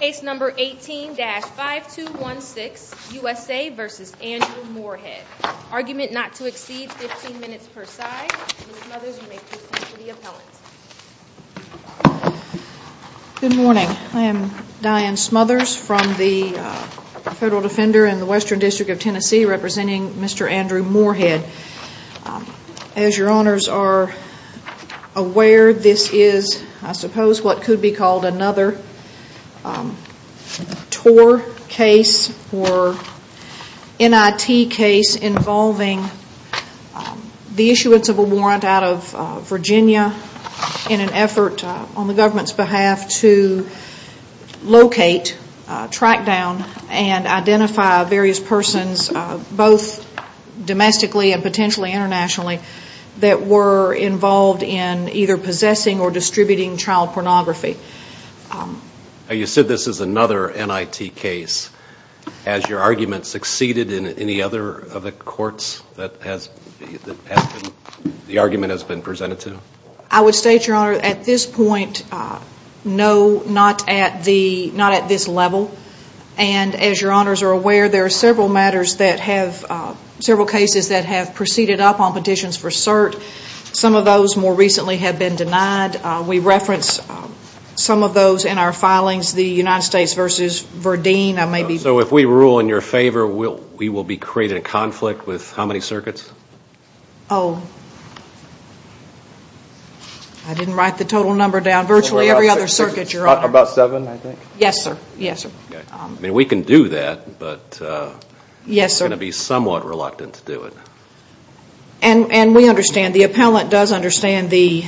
Case number 18-5216, USA v. Andrew Moorhead. Argument not to exceed 15 minutes per side. Ms. Smothers, you may proceed to the appellant. Good morning. I am Diane Smothers from the Federal Defender in the Western District of Tennessee representing Mr. Andrew Moorhead. As your honors are aware, this is I suppose what could be called another TOR case or NIT case involving the issuance of a warrant out of Virginia in an effort on the government's behalf to locate, track down and identify various persons, both domestically and potentially internationally, that were involved in either possessing or distributing child pornography. You said this is another NIT case. Has your argument succeeded in any other of the courts that the argument has been presented to? I would state, your honor, at this point, no, not at this level. And as your honors are aware, there are several cases that have proceeded up on petitions for cert. Some of those more recently have been denied. We reference some of those in our filings, the United States v. Verdeen. So if we rule in your favor, we will be creating a conflict with how many circuits? Oh, I didn't write the total number down. Virtually every other circuit, your honor. About seven, I think. Yes, sir. Yes, sir. I mean, we can do that, but I'm going to be somewhat reluctant to do it. And we understand, the appellant does understand the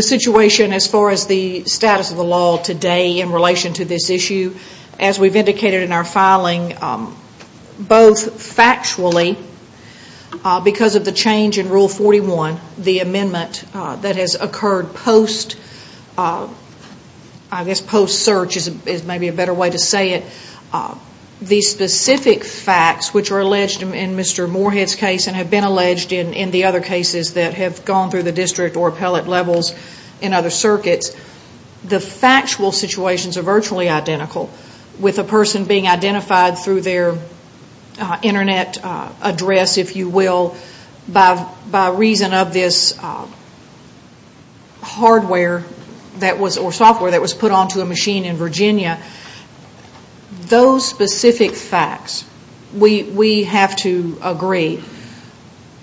situation as far as the status of the law today in relation to this issue. As we've indicated in our filing, both factually, because of the change in Rule 41, the amendment that has occurred post, I guess post-search is maybe a better way to say it, the specific facts which are alleged in Mr. Moorhead's case and have been alleged in the other cases that have gone through the district or appellate levels in other circuits, the factual situations are virtually identical. With a person being identified through their Internet address, if you will, by reason of this hardware or software that was put onto a machine in Virginia, those specific facts, we have to agree,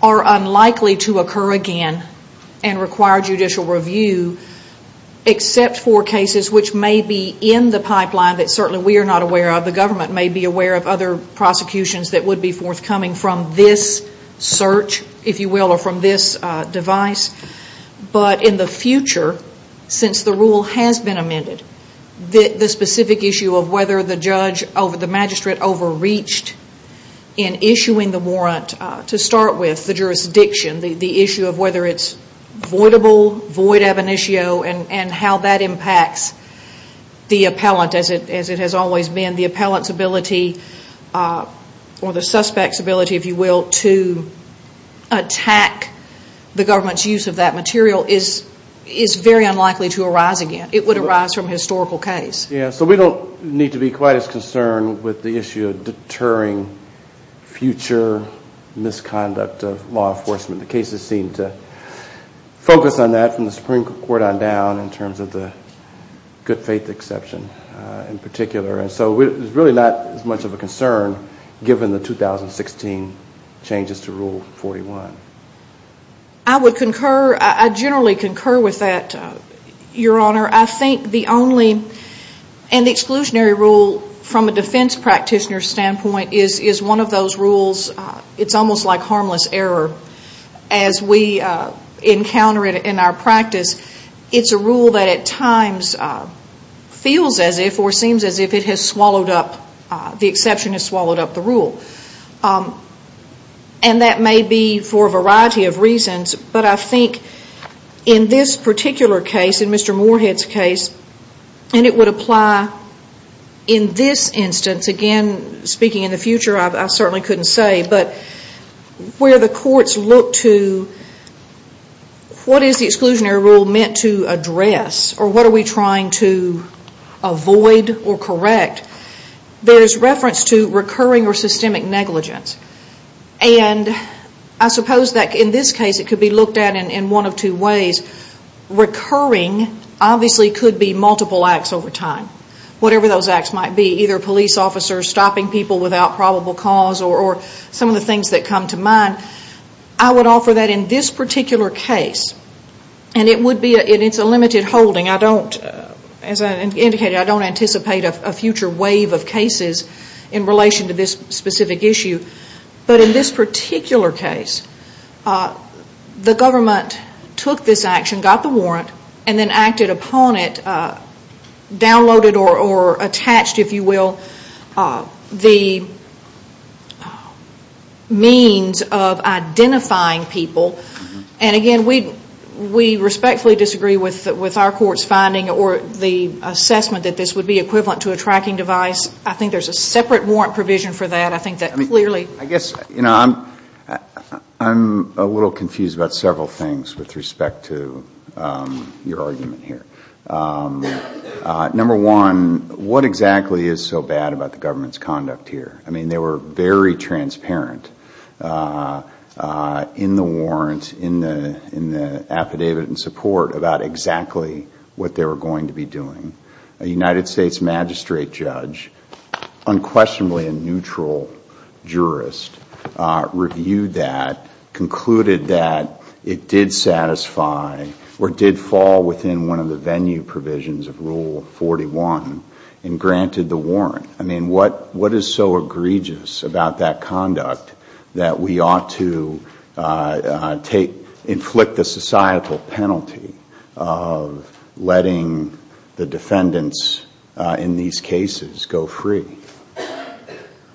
are unlikely to occur again and require judicial review, except for cases which may be in the pipeline that certainly we are not aware of. The government may be aware of other prosecutions that would be forthcoming from this search, if you will, or from this device. But in the future, since the rule has been amended, the specific issue of whether the magistrate overreached in issuing the warrant, to start with, the jurisdiction, the issue of whether it's voidable, void ab initio, and how that impacts the appellant as it has always been. The appellant's ability or the suspect's ability, if you will, to attack the government's use of that material is very unlikely to arise again. It would arise from a historical case. So we don't need to be quite as concerned with the issue of deterring future misconduct of law enforcement. The cases seem to focus on that from the Supreme Court on down in terms of the good faith exception in particular. And so it's really not as much of a concern given the 2016 changes to Rule 41. I would concur. I generally concur with that, Your Honor. I think the only, and the exclusionary rule from a defense practitioner's standpoint is one of those rules. It's almost like harmless error. As we encounter it in our practice, it's a rule that at times feels as if or seems as if it has swallowed up, the exception has swallowed up the rule. And that may be for a variety of reasons, but I think in this particular case, in Mr. Moorhead's case, and it would apply in this instance. Again, speaking in the future, I certainly couldn't say, but where the courts look to what is the exclusionary rule meant to address or what are we trying to avoid or correct, there's reference to recurring or systemic negligence. And I suppose that in this case it could be looked at in one of two ways. Recurring obviously could be multiple acts over time, whatever those acts might be, either police officers stopping people without probable cause or some of the things that come to mind. I would offer that in this particular case, and it's a limited holding. I don't, as I indicated, I don't anticipate a future wave of cases in relation to this specific issue. But in this particular case, the government took this action, got the warrant, and then acted upon it, downloaded or attached, if you will, the means of identifying people. And again, we respectfully disagree with our court's finding or the assessment that this would be equivalent to a tracking device. I think there's a separate warrant provision for that. I think that clearly I guess, you know, I'm a little confused about several things with respect to your argument here. Number one, what exactly is so bad about the government's conduct here? I mean, they were very transparent in the warrant, in the affidavit and support about exactly what they were going to be doing. A United States magistrate judge, unquestionably a neutral jurist, reviewed that, concluded that it did satisfy or did fall within one of the venue provisions of Rule 41 and granted the warrant. I mean, what is so egregious about that conduct that we ought to take, inflict the societal penalty of letting the defendants in these cases go free?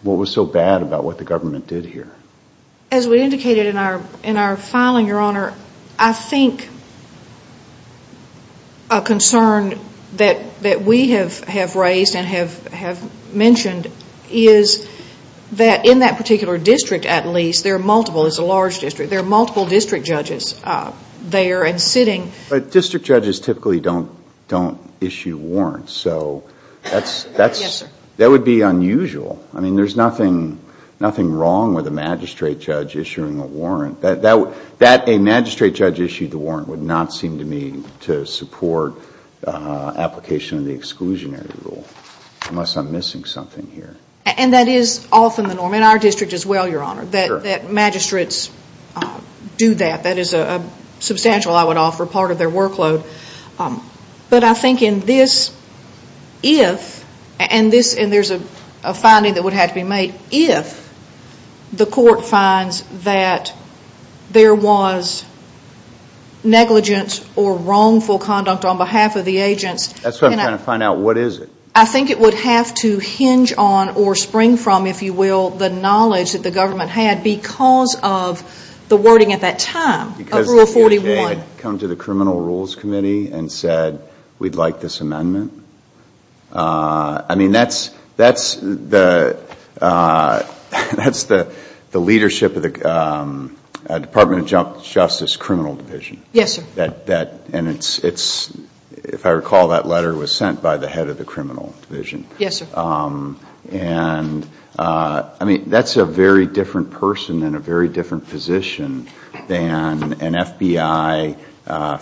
What was so bad about what the government did here? As we indicated in our filing, Your Honor, I think a concern that we have raised and have mentioned is that in that particular district, at least, there are multiple, it's a large district, there are multiple district judges there and sitting. But district judges typically don't issue warrants, so that's Yes, sir. That would be unusual. I mean, there's nothing wrong with a magistrate judge issuing a warrant. That a magistrate judge issued the warrant would not seem to me to support application of the exclusionary rule, unless I'm missing something here. And that is often the norm in our district as well, Your Honor, that magistrates do that. That is a substantial, I would offer, part of their workload. But I think in this, if, and there's a finding that would have to be made, if the court finds that there was negligence or wrongful conduct on behalf of the agents. That's what I'm trying to find out. What is it? I think it would have to hinge on or spring from, if you will, the knowledge that the government had because of the wording at that time of Rule 41. I mean, I think it would have to come to the criminal rules committee and said, we'd like this amendment. I mean, that's the leadership of the Department of Justice criminal division. Yes, sir. And it's, if I recall, that letter was sent by the head of the criminal division. Yes, sir. And, I mean, that's a very different person and a very different position than an FBI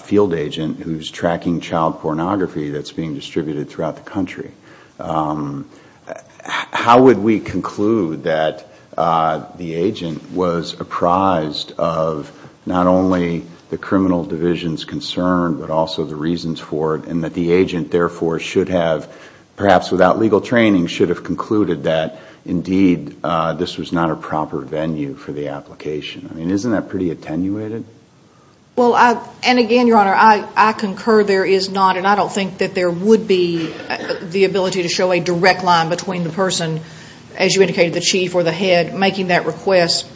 field agent who's tracking child pornography that's being distributed throughout the country. How would we conclude that the agent was apprised of not only the criminal division's concern, but also the reasons for it, and that the agent, therefore, should have, perhaps without legal training, should have concluded that, indeed, this was not a proper venue for the application? I mean, isn't that pretty attenuated? Well, and again, Your Honor, I concur there is not, and I don't think that there would be the ability to show a direct line between the person, as you indicated, the chief or the head, making that request,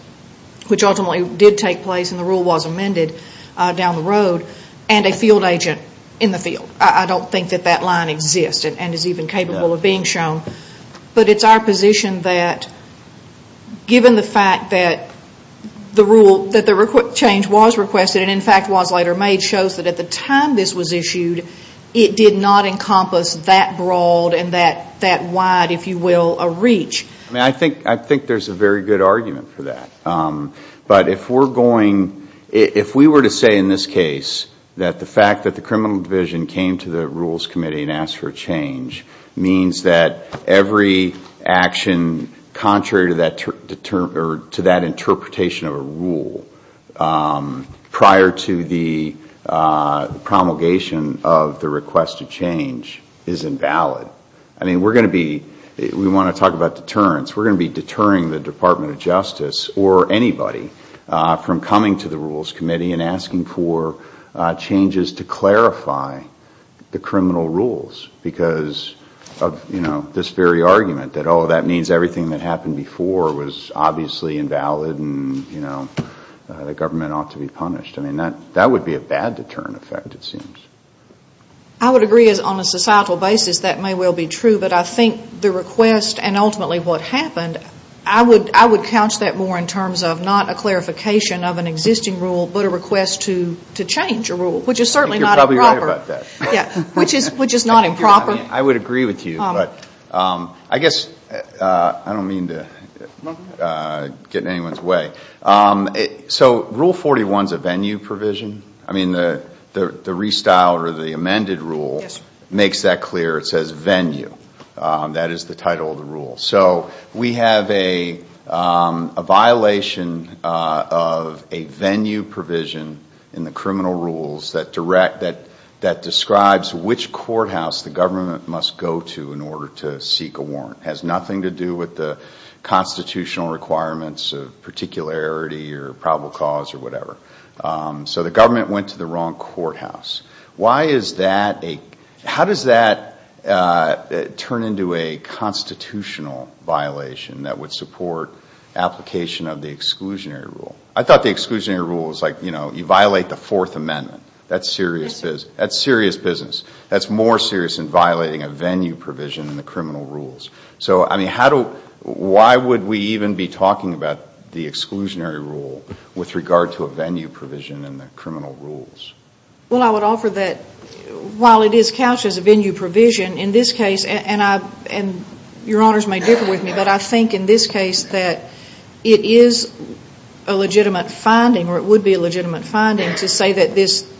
which ultimately did take place, and the rule was amended down the road, and a field agent in the field. I don't think that that line exists and is even capable of being shown. But it's our position that, given the fact that the rule, that the change was requested and, in fact, was later made, shows that at the time this was issued, it did not encompass that broad and that wide, if you will, a reach. I mean, I think there's a very good argument for that. But if we're going, if we were to say, in this case, that the fact that the criminal division came to the Rules Committee and asked for a change means that every action contrary to that interpretation of a rule prior to the promulgation of the request to change is invalid, I mean, we're going to be, we want to talk about deterrence, we're going to be deterring the Department of Justice or anybody from coming to the Rules Committee and asking for changes to clarify the criminal rules because of, you know, this very argument that, oh, that means everything that happened before was obviously invalid and, you know, the government ought to be punished. I mean, that would be a bad deterrent effect, it seems. I would agree, on a societal basis, that may well be true. But I think the request and ultimately what happened, I would couch that more in terms of not a clarification of an existing rule but a request to change a rule, which is certainly not improper. I think you're probably right about that. Yeah, which is not improper. I would agree with you. But I guess I don't mean to get in anyone's way. So Rule 41 is a venue provision? I mean, the restyle or the amended rule makes that clear. It says venue. That is the title of the rule. So we have a violation of a venue provision in the criminal rules that describes which courthouse the government must go to in order to seek a warrant. It has nothing to do with the constitutional requirements of particularity or probable cause or whatever. So the government went to the wrong courthouse. Why is that a ‑‑ how does that turn into a constitutional violation that would support application of the exclusionary rule? I thought the exclusionary rule was like, you know, you violate the Fourth Amendment. That's serious business. That's more serious than violating a venue provision in the criminal rules. So, I mean, how do ‑‑ why would we even be talking about the exclusionary rule with regard to a venue provision in the criminal rules? Well, I would offer that while it is couched as a venue provision, in this case, and your honors may differ with me, but I think in this case that it is a legitimate finding or it would be a legitimate finding to say that this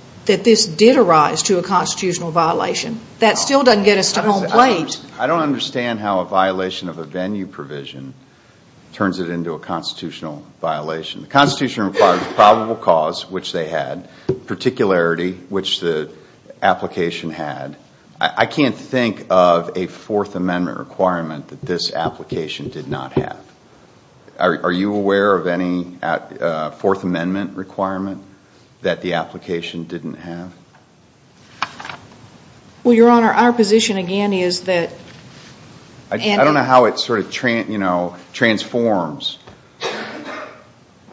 did arise to a constitutional violation. That still doesn't get us to home plate. I don't understand how a violation of a venue provision turns it into a constitutional violation. The Constitution requires probable cause, which they had, particularity, which the application had. I can't think of a Fourth Amendment requirement that this application did not have. Are you aware of any Fourth Amendment requirement that the application didn't have? Well, your honor, our position again is that ‑‑ I don't know how it sort of transforms.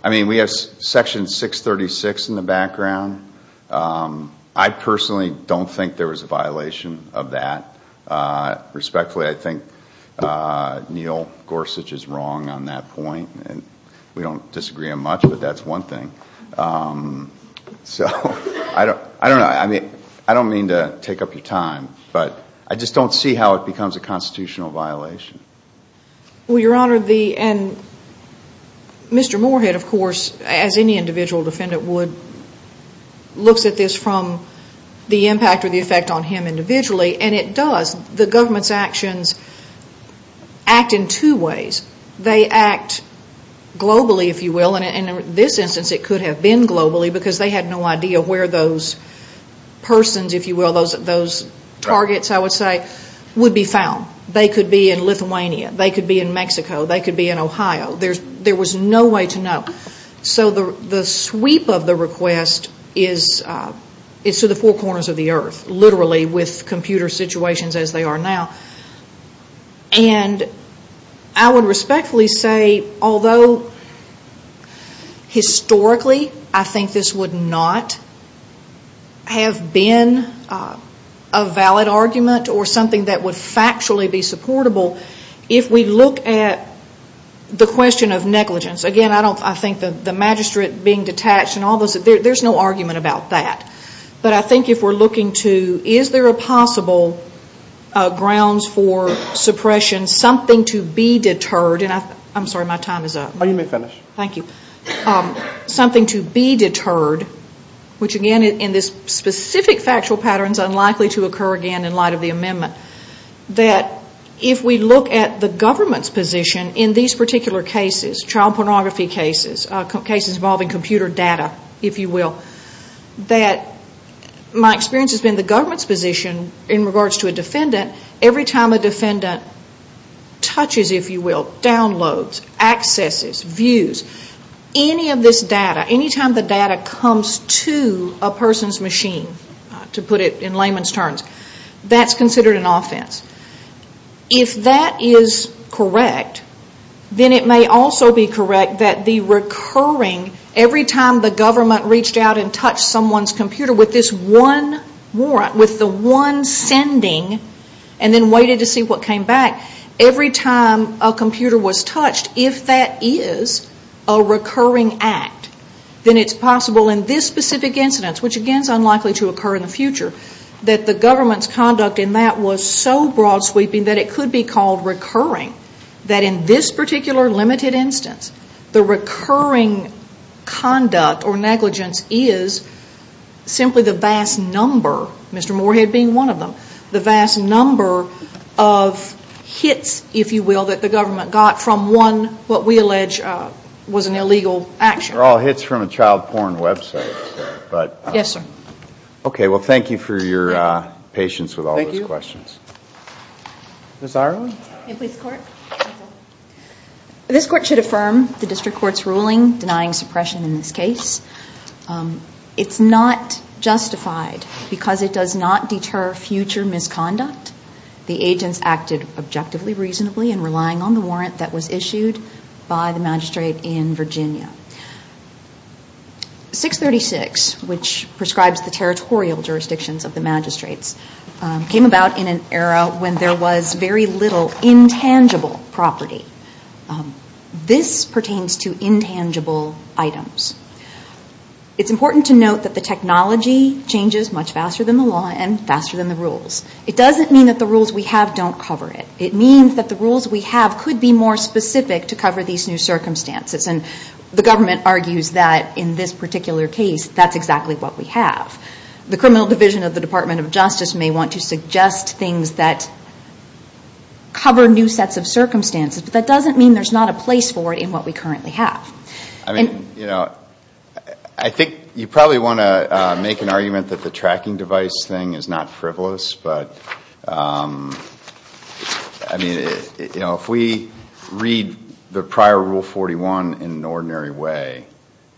I mean, we have Section 636 in the background. I personally don't think there was a violation of that. Respectfully, I think Neil Gorsuch is wrong on that point. We don't disagree on much, but that's one thing. So, I don't know. I don't mean to take up your time, but I just don't see how it becomes a constitutional violation. Well, your honor, Mr. Moorhead, of course, as any individual defendant would, looks at this from the impact or the effect on him individually, and it does. The government's actions act in two ways. They act globally, if you will, and in this instance it could have been globally because they had no idea where those persons, if you will, those targets, I would say, would be found. They could be in Lithuania. They could be in Mexico. They could be in Ohio. There was no way to know. So the sweep of the request is to the four corners of the earth, literally, with computer situations as they are now. And I would respectfully say, although historically I think this would not have been a valid argument or something that would factually be supportable, if we look at the question of negligence, again, I think the magistrate being detached and all this, there's no argument about that. But I think if we're looking to is there a possible grounds for suppression, something to be deterred, and I'm sorry, my time is up. Oh, you may finish. Thank you. Something to be deterred, which again in this specific factual pattern is unlikely to occur again in light of the amendment, that if we look at the government's position in these particular cases, child pornography cases, cases involving computer data, if you will, that my experience has been the government's position in regards to a defendant, every time a defendant touches, if you will, downloads, accesses, views, any of this data, any time the data comes to a person's machine, to put it in layman's terms, that's considered an offense. If that is correct, then it may also be correct that the recurring, every time the government reached out and touched someone's computer with this one warrant, with the one sending and then waited to see what came back, every time a computer was touched, if that is a recurring act, then it's possible in this specific incidence, which again is unlikely to occur in the future, that the government's conduct in that was so broad sweeping that it could be called recurring, that in this particular limited instance, the recurring conduct or negligence is simply the vast number, Mr. Moorhead being one of them, the vast number of hits, if you will, that the government got from one, what we allege was an illegal action. They're all hits from a child porn website. Yes, sir. Okay, well, thank you for your patience with all those questions. Thank you. Ms. Ireland? This court should affirm the district court's ruling denying suppression in this case. It's not justified because it does not deter future misconduct. The agents acted objectively, reasonably in relying on the warrant that was issued by the magistrate in Virginia. 636, which prescribes the territorial jurisdictions of the magistrates, came about in an era when there was very little intangible property. This pertains to intangible items. It's important to note that the technology changes much faster than the law and faster than the rules. It doesn't mean that the rules we have don't cover it. It means that the rules we have could be more specific to cover these new circumstances, and the government argues that in this particular case, that's exactly what we have. The criminal division of the Department of Justice may want to suggest things that cover new sets of circumstances, but that doesn't mean there's not a place for it in what we currently have. I mean, you know, I think you probably want to make an argument that the tracking device thing is not frivolous, but I mean, you know, if we read the prior Rule 41 in an ordinary way,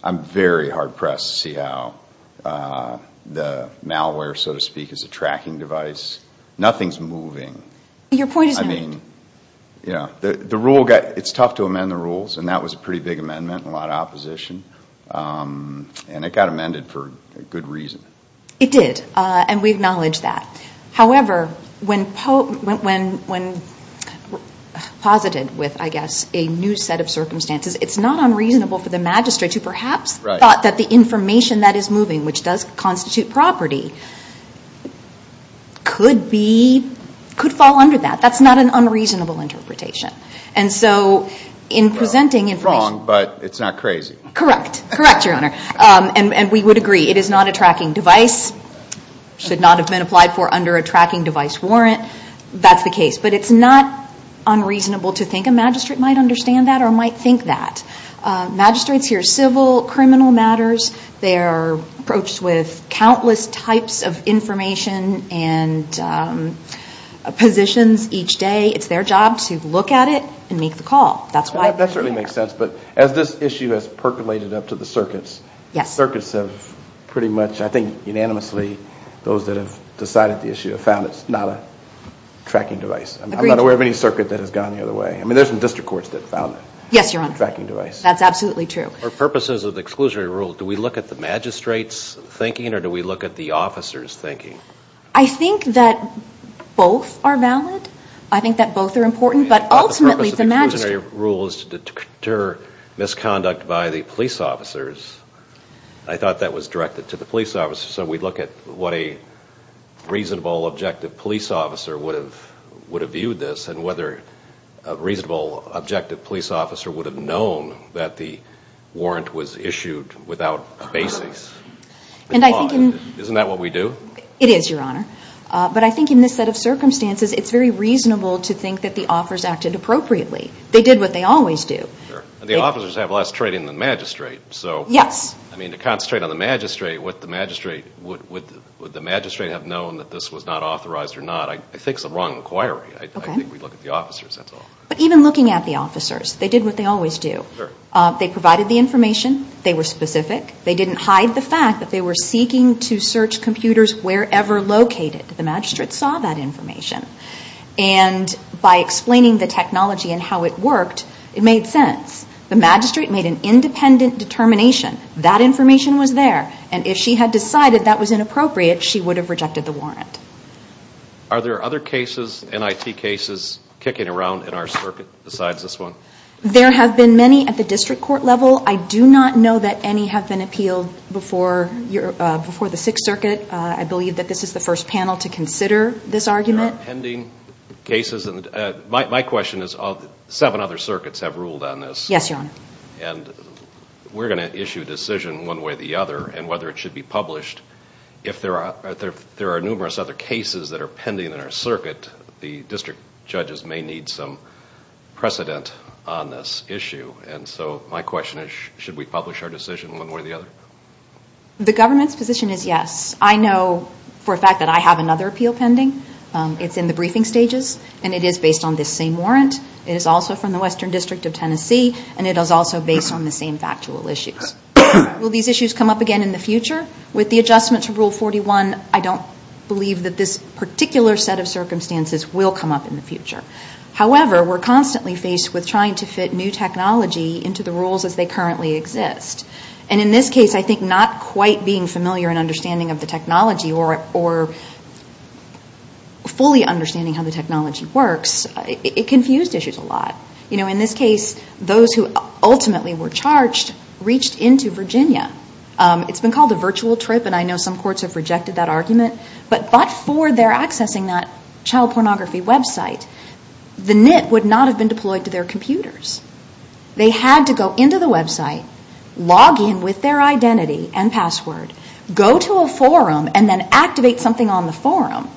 I'm very hard-pressed to see how the malware, so to speak, is a tracking device. Nothing's moving. Your point is not made. It's tough to amend the rules, and that was a pretty big amendment and a lot of opposition, and it got amended for a good reason. It did, and we acknowledge that. However, when posited with, I guess, a new set of circumstances, it's not unreasonable for the magistrate to perhaps thought that the information that is moving, which does constitute property, could fall under that. That's not an unreasonable interpretation. And so in presenting information. Wrong, but it's not crazy. Correct. Correct, Your Honor. And we would agree. It is not a tracking device, should not have been applied for under a tracking device warrant. That's the case. But it's not unreasonable to think a magistrate might understand that or might think that. Magistrates hear civil criminal matters. They are approached with countless types of information and positions each day. It's their job to look at it and make the call. That certainly makes sense, but as this issue has percolated up to the circuits, circuits have pretty much, I think, unanimously, those that have decided the issue, have found it's not a tracking device. I'm not aware of any circuit that has gone the other way. I mean, there's some district courts that found it. Yes, Your Honor. Tracking device. That's absolutely true. For purposes of the exclusionary rule, do we look at the magistrate's thinking or do we look at the officer's thinking? I think that both are valid. I think that both are important, but ultimately the magistrate. The purpose of the exclusionary rule is to deter misconduct by the police officers. I thought that was directed to the police officers. So we'd look at what a reasonable, objective police officer would have viewed this and whether a reasonable, objective police officer would have known that the warrant was issued without a basis. Isn't that what we do? It is, Your Honor. But I think in this set of circumstances, it's very reasonable to think that the officers acted appropriately. They did what they always do. The officers have less trading than the magistrate. Yes. I mean, to concentrate on the magistrate, would the magistrate have known that this was not authorized or not, I think is a wrong inquiry. I think we'd look at the officers, that's all. But even looking at the officers, they did what they always do. They provided the information. They were specific. They didn't hide the fact that they were seeking to search computers wherever located. The magistrate saw that information. And by explaining the technology and how it worked, it made sense. The magistrate made an independent determination. That information was there. And if she had decided that was inappropriate, she would have rejected the warrant. Are there other cases, NIT cases, kicking around in our circuit besides this one? There have been many at the district court level. I do not know that any have been appealed before the Sixth Circuit. I believe that this is the first panel to consider this argument. There are pending cases. My question is, seven other circuits have ruled on this. Yes, Your Honor. And we're going to issue a decision one way or the other, and whether it should be published. If there are numerous other cases that are pending in our circuit, the district judges may need some precedent on this issue. And so my question is, should we publish our decision one way or the other? The government's position is yes. I know for a fact that I have another appeal pending. It's in the briefing stages, and it is based on this same warrant. It is also from the Western District of Tennessee, and it is also based on the same factual issues. Will these issues come up again in the future? With the adjustment to Rule 41, I don't believe that this particular set of circumstances will come up in the future. However, we're constantly faced with trying to fit new technology into the rules as they currently exist. And in this case, I think not quite being familiar and understanding of the technology or fully understanding how the technology works, it confused issues a lot. You know, in this case, those who ultimately were charged reached into Virginia. It's been called a virtual trip, and I know some courts have rejected that argument. But for their accessing that child pornography website, the NIT would not have been deployed to their computers. They had to go into the website, log in with their identity and password, go to a forum, and then activate something on the forum.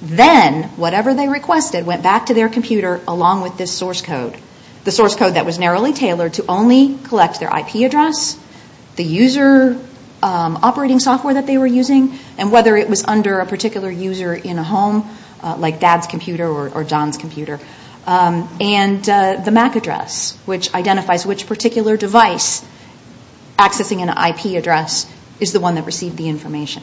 Then, whatever they requested went back to their computer along with this source code, the source code that was narrowly tailored to only collect their IP address, the user operating software that they were using, and whether it was under a particular user in a home, like Dad's computer or John's computer, and the MAC address, which identifies which particular device accessing an IP address is the one that received the information.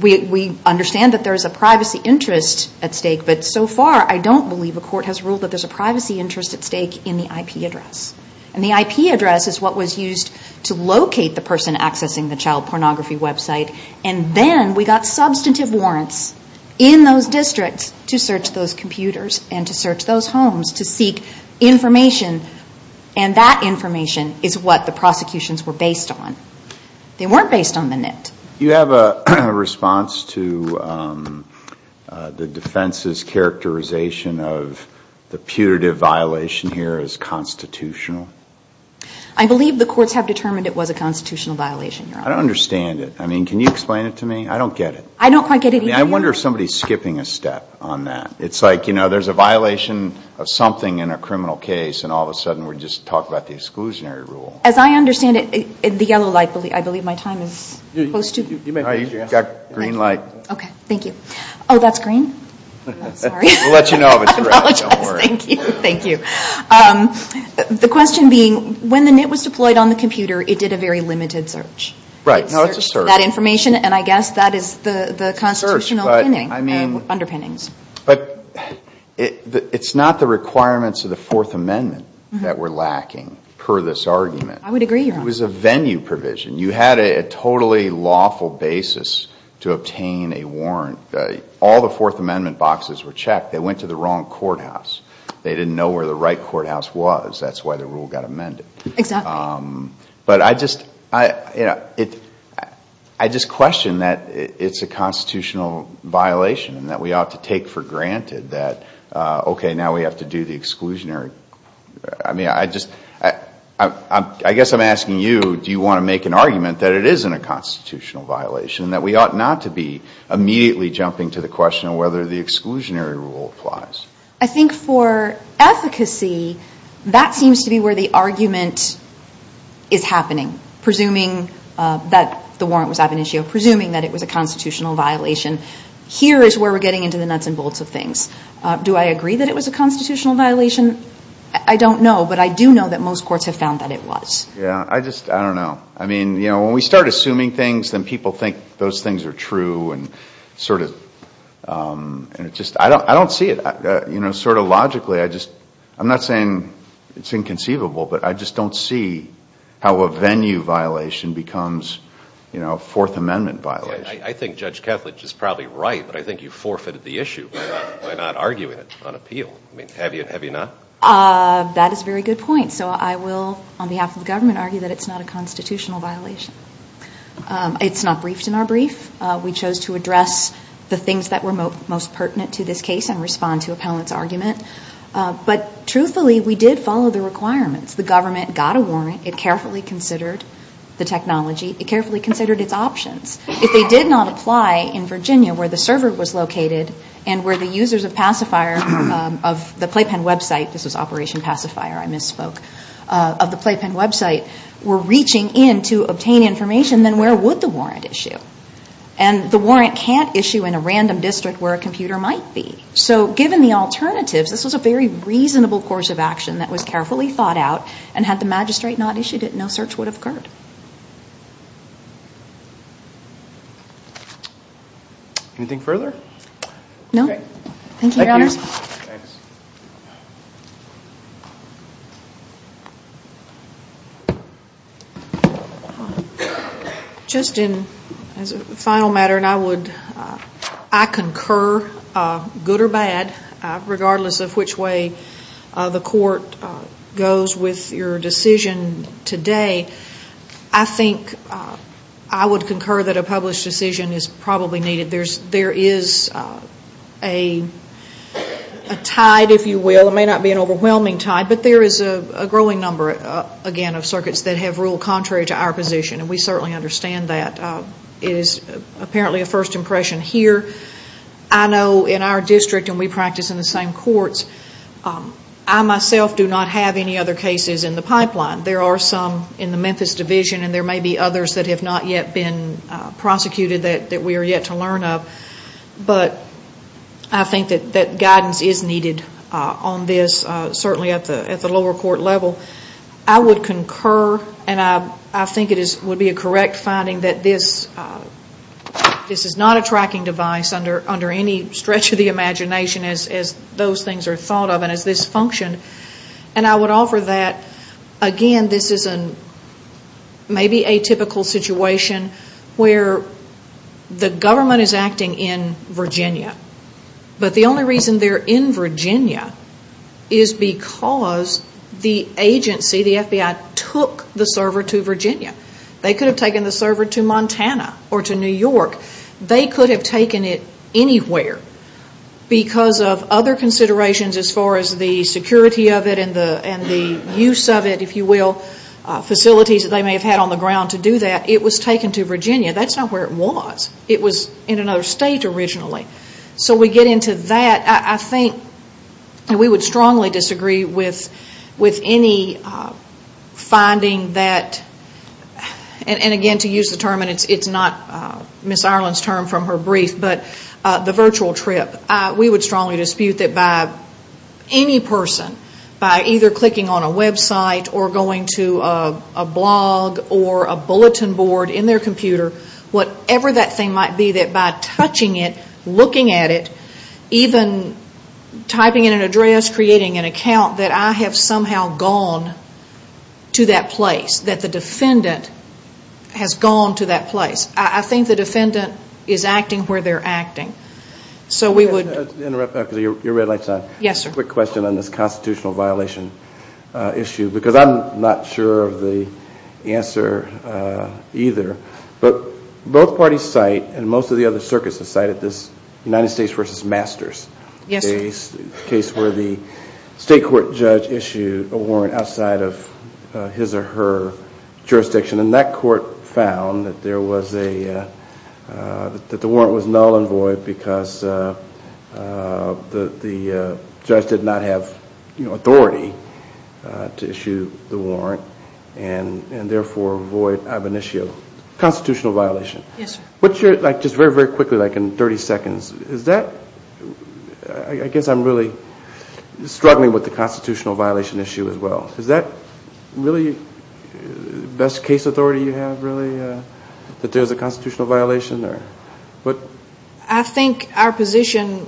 We understand that there's a privacy interest at stake, but so far I don't believe a court has ruled that there's a privacy interest at stake in the IP address. And the IP address is what was used to locate the person accessing the child pornography website, and then we got substantive warrants in those districts to search those computers and to search those homes to seek information, and that information is what the prosecutions were based on. They weren't based on the net. You have a response to the defense's characterization of the putative violation here as constitutional? I believe the courts have determined it was a constitutional violation, Your Honor. I don't understand it. I mean, can you explain it to me? I don't get it. I don't quite get it either. I wonder if somebody's skipping a step on that. It's like, you know, there's a violation of something in a criminal case, and all of a sudden we're just talking about the exclusionary rule. As I understand it, the yellow light, I believe my time is close to... You may raise your hand. You've got green light. Okay, thank you. Oh, that's green? I'm sorry. We'll let you know if it's red. I apologize. Thank you. Thank you. The question being, when the net was deployed on the computer, it did a very limited search. Right. No, it's a search. It searched that information, and I guess that is the constitutional underpinnings. But it's not the requirements of the Fourth Amendment that were lacking, per this argument. I would agree, Your Honor. It was a venue provision. You had a totally lawful basis to obtain a warrant. All the Fourth Amendment boxes were checked. They went to the wrong courthouse. They didn't know where the right courthouse was. That's why the rule got amended. Exactly. But I just question that it's a constitutional violation, and that we ought to take for granted that, okay, now we have to do the exclusionary... I mean, I guess I'm asking you, do you want to make an argument that it isn't a constitutional violation, and that we ought not to be immediately jumping to the question of whether the exclusionary rule applies? I think for efficacy, that seems to be where the argument is happening, presuming that the warrant was ab initio, presuming that it was a constitutional violation. Here is where we're getting into the nuts and bolts of things. Do I agree that it was a constitutional violation? I don't know, but I do know that most courts have found that it was. Yeah. I just, I don't know. I mean, you know, when we start assuming things, then people think those things are true, and sort of, and it just, I don't see it. You know, sort of logically, I just, I'm not saying it's inconceivable, but I just don't see how a venue violation becomes, you know, a Fourth Amendment violation. I think Judge Kethledge is probably right, but I think you forfeited the issue by not arguing it on appeal. I mean, have you not? That is a very good point. So I will, on behalf of the government, argue that it's not a constitutional violation. It's not briefed in our brief. We chose to address the things that were most pertinent to this case and respond to appellant's argument. But truthfully, we did follow the requirements. The government got a warrant. It carefully considered the technology. It carefully considered its options. If they did not apply in Virginia where the server was located and where the users of Pacifier, of the Playpen website, this was Operation Pacifier, I misspoke, of the Playpen website were reaching in to obtain information, then where would the warrant issue? And the warrant can't issue in a random district where a computer might be. So given the alternatives, this was a very reasonable course of action that was carefully thought out, and had the magistrate not issued it, no search would have occurred. No. Thank you, Your Honors. Thanks. Just in, as a final matter, and I would, I concur, good or bad, regardless of which way the court goes with your decision today, I think I would concur that a published decision is probably needed. There is a tide, if you will, it may not be an overwhelming tide, but there is a growing number, again, of circuits that have ruled contrary to our position, and we certainly understand that. It is apparently a first impression here. I know in our district, and we practice in the same courts, I myself do not have any other cases in the pipeline. There are some in the Memphis Division, and there may be others that have not yet been prosecuted that we are yet to learn of. But I think that guidance is needed on this, certainly at the lower court level. I would concur, and I think it would be a correct finding that this is not a tracking device under any stretch of the imagination as those things are thought of and as this functioned. And I would offer that, again, this is maybe a typical situation where the government is acting in Virginia, but the only reason they are in Virginia is because the agency, the FBI, took the server to Virginia. They could have taken the server to Montana or to New York. They could have taken it anywhere because of other considerations as far as the security of it and the use of it, if you will, facilities that they may have had on the ground to do that. It was taken to Virginia. That is not where it was. It was in another state originally. So we get into that. I think we would strongly disagree with any finding that, and again, to use the term, and it is not Ms. Ireland's term from her brief, but the virtual trip. We would strongly dispute that by any person, by either clicking on a website or going to a blog or a bulletin board in their computer, whatever that thing might be, that by touching it, looking at it, even typing in an address, creating an account, that I have somehow gone to that place, that the defendant has gone to that place. I think the defendant is acting where they are acting. So we would. Let me interrupt because your red light is on. Yes, sir. A quick question on this constitutional violation issue because I'm not sure of the answer either. But both parties cite, and most of the other circuits have cited, this United States v. Masters. Yes, sir. A case where the state court judge issued a warrant outside of his or her jurisdiction, and that court found that the warrant was null and void because the judge did not have authority to issue the warrant and therefore void of an issue of constitutional violation. Yes, sir. Just very, very quickly, like in 30 seconds, I guess I'm really struggling with the constitutional violation issue as well. Is that really the best case authority you have, really, that there's a constitutional violation there? I think our position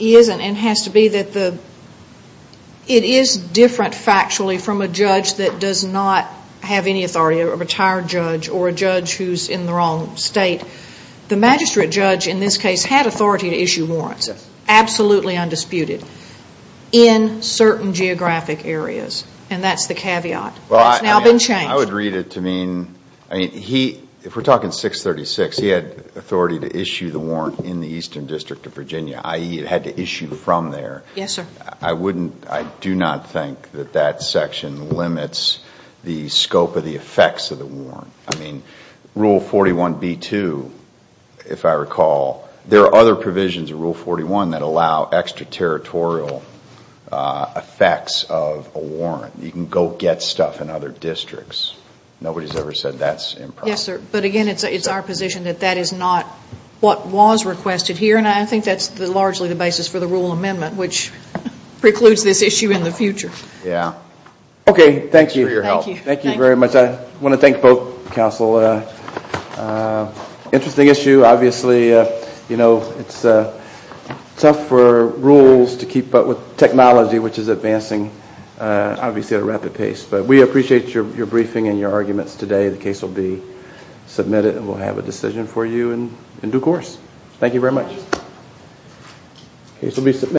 is and has to be that it is different factually from a judge that does not have any authority, a retired judge or a judge who's in the wrong state. The magistrate judge in this case had authority to issue warrants, absolutely undisputed, in certain geographic areas, and that's the caveat. It's now been changed. I would read it to mean, if we're talking 636, he had authority to issue the warrant in the Eastern District of Virginia, i.e., it had to issue from there. Yes, sir. I do not think that that section limits the scope of the effects of the warrant. I mean, Rule 41b-2, if I recall, there are other provisions in Rule 41 that allow extraterritorial effects of a warrant. You can go get stuff in other districts. Nobody's ever said that's improper. Yes, sir. But again, it's our position that that is not what was requested here, and I think that's largely the basis for the rule amendment, which precludes this issue in the future. Yes. Okay, thank you for your help. Thank you. Thank you very much. I want to thank both counsel. Interesting issue. Obviously, you know, it's tough for rules to keep up with technology, which is advancing, obviously, at a rapid pace. But we appreciate your briefing and your arguments today. The case will be submitted, and we'll have a decision for you in due course. Thank you very much. The case will be submitted.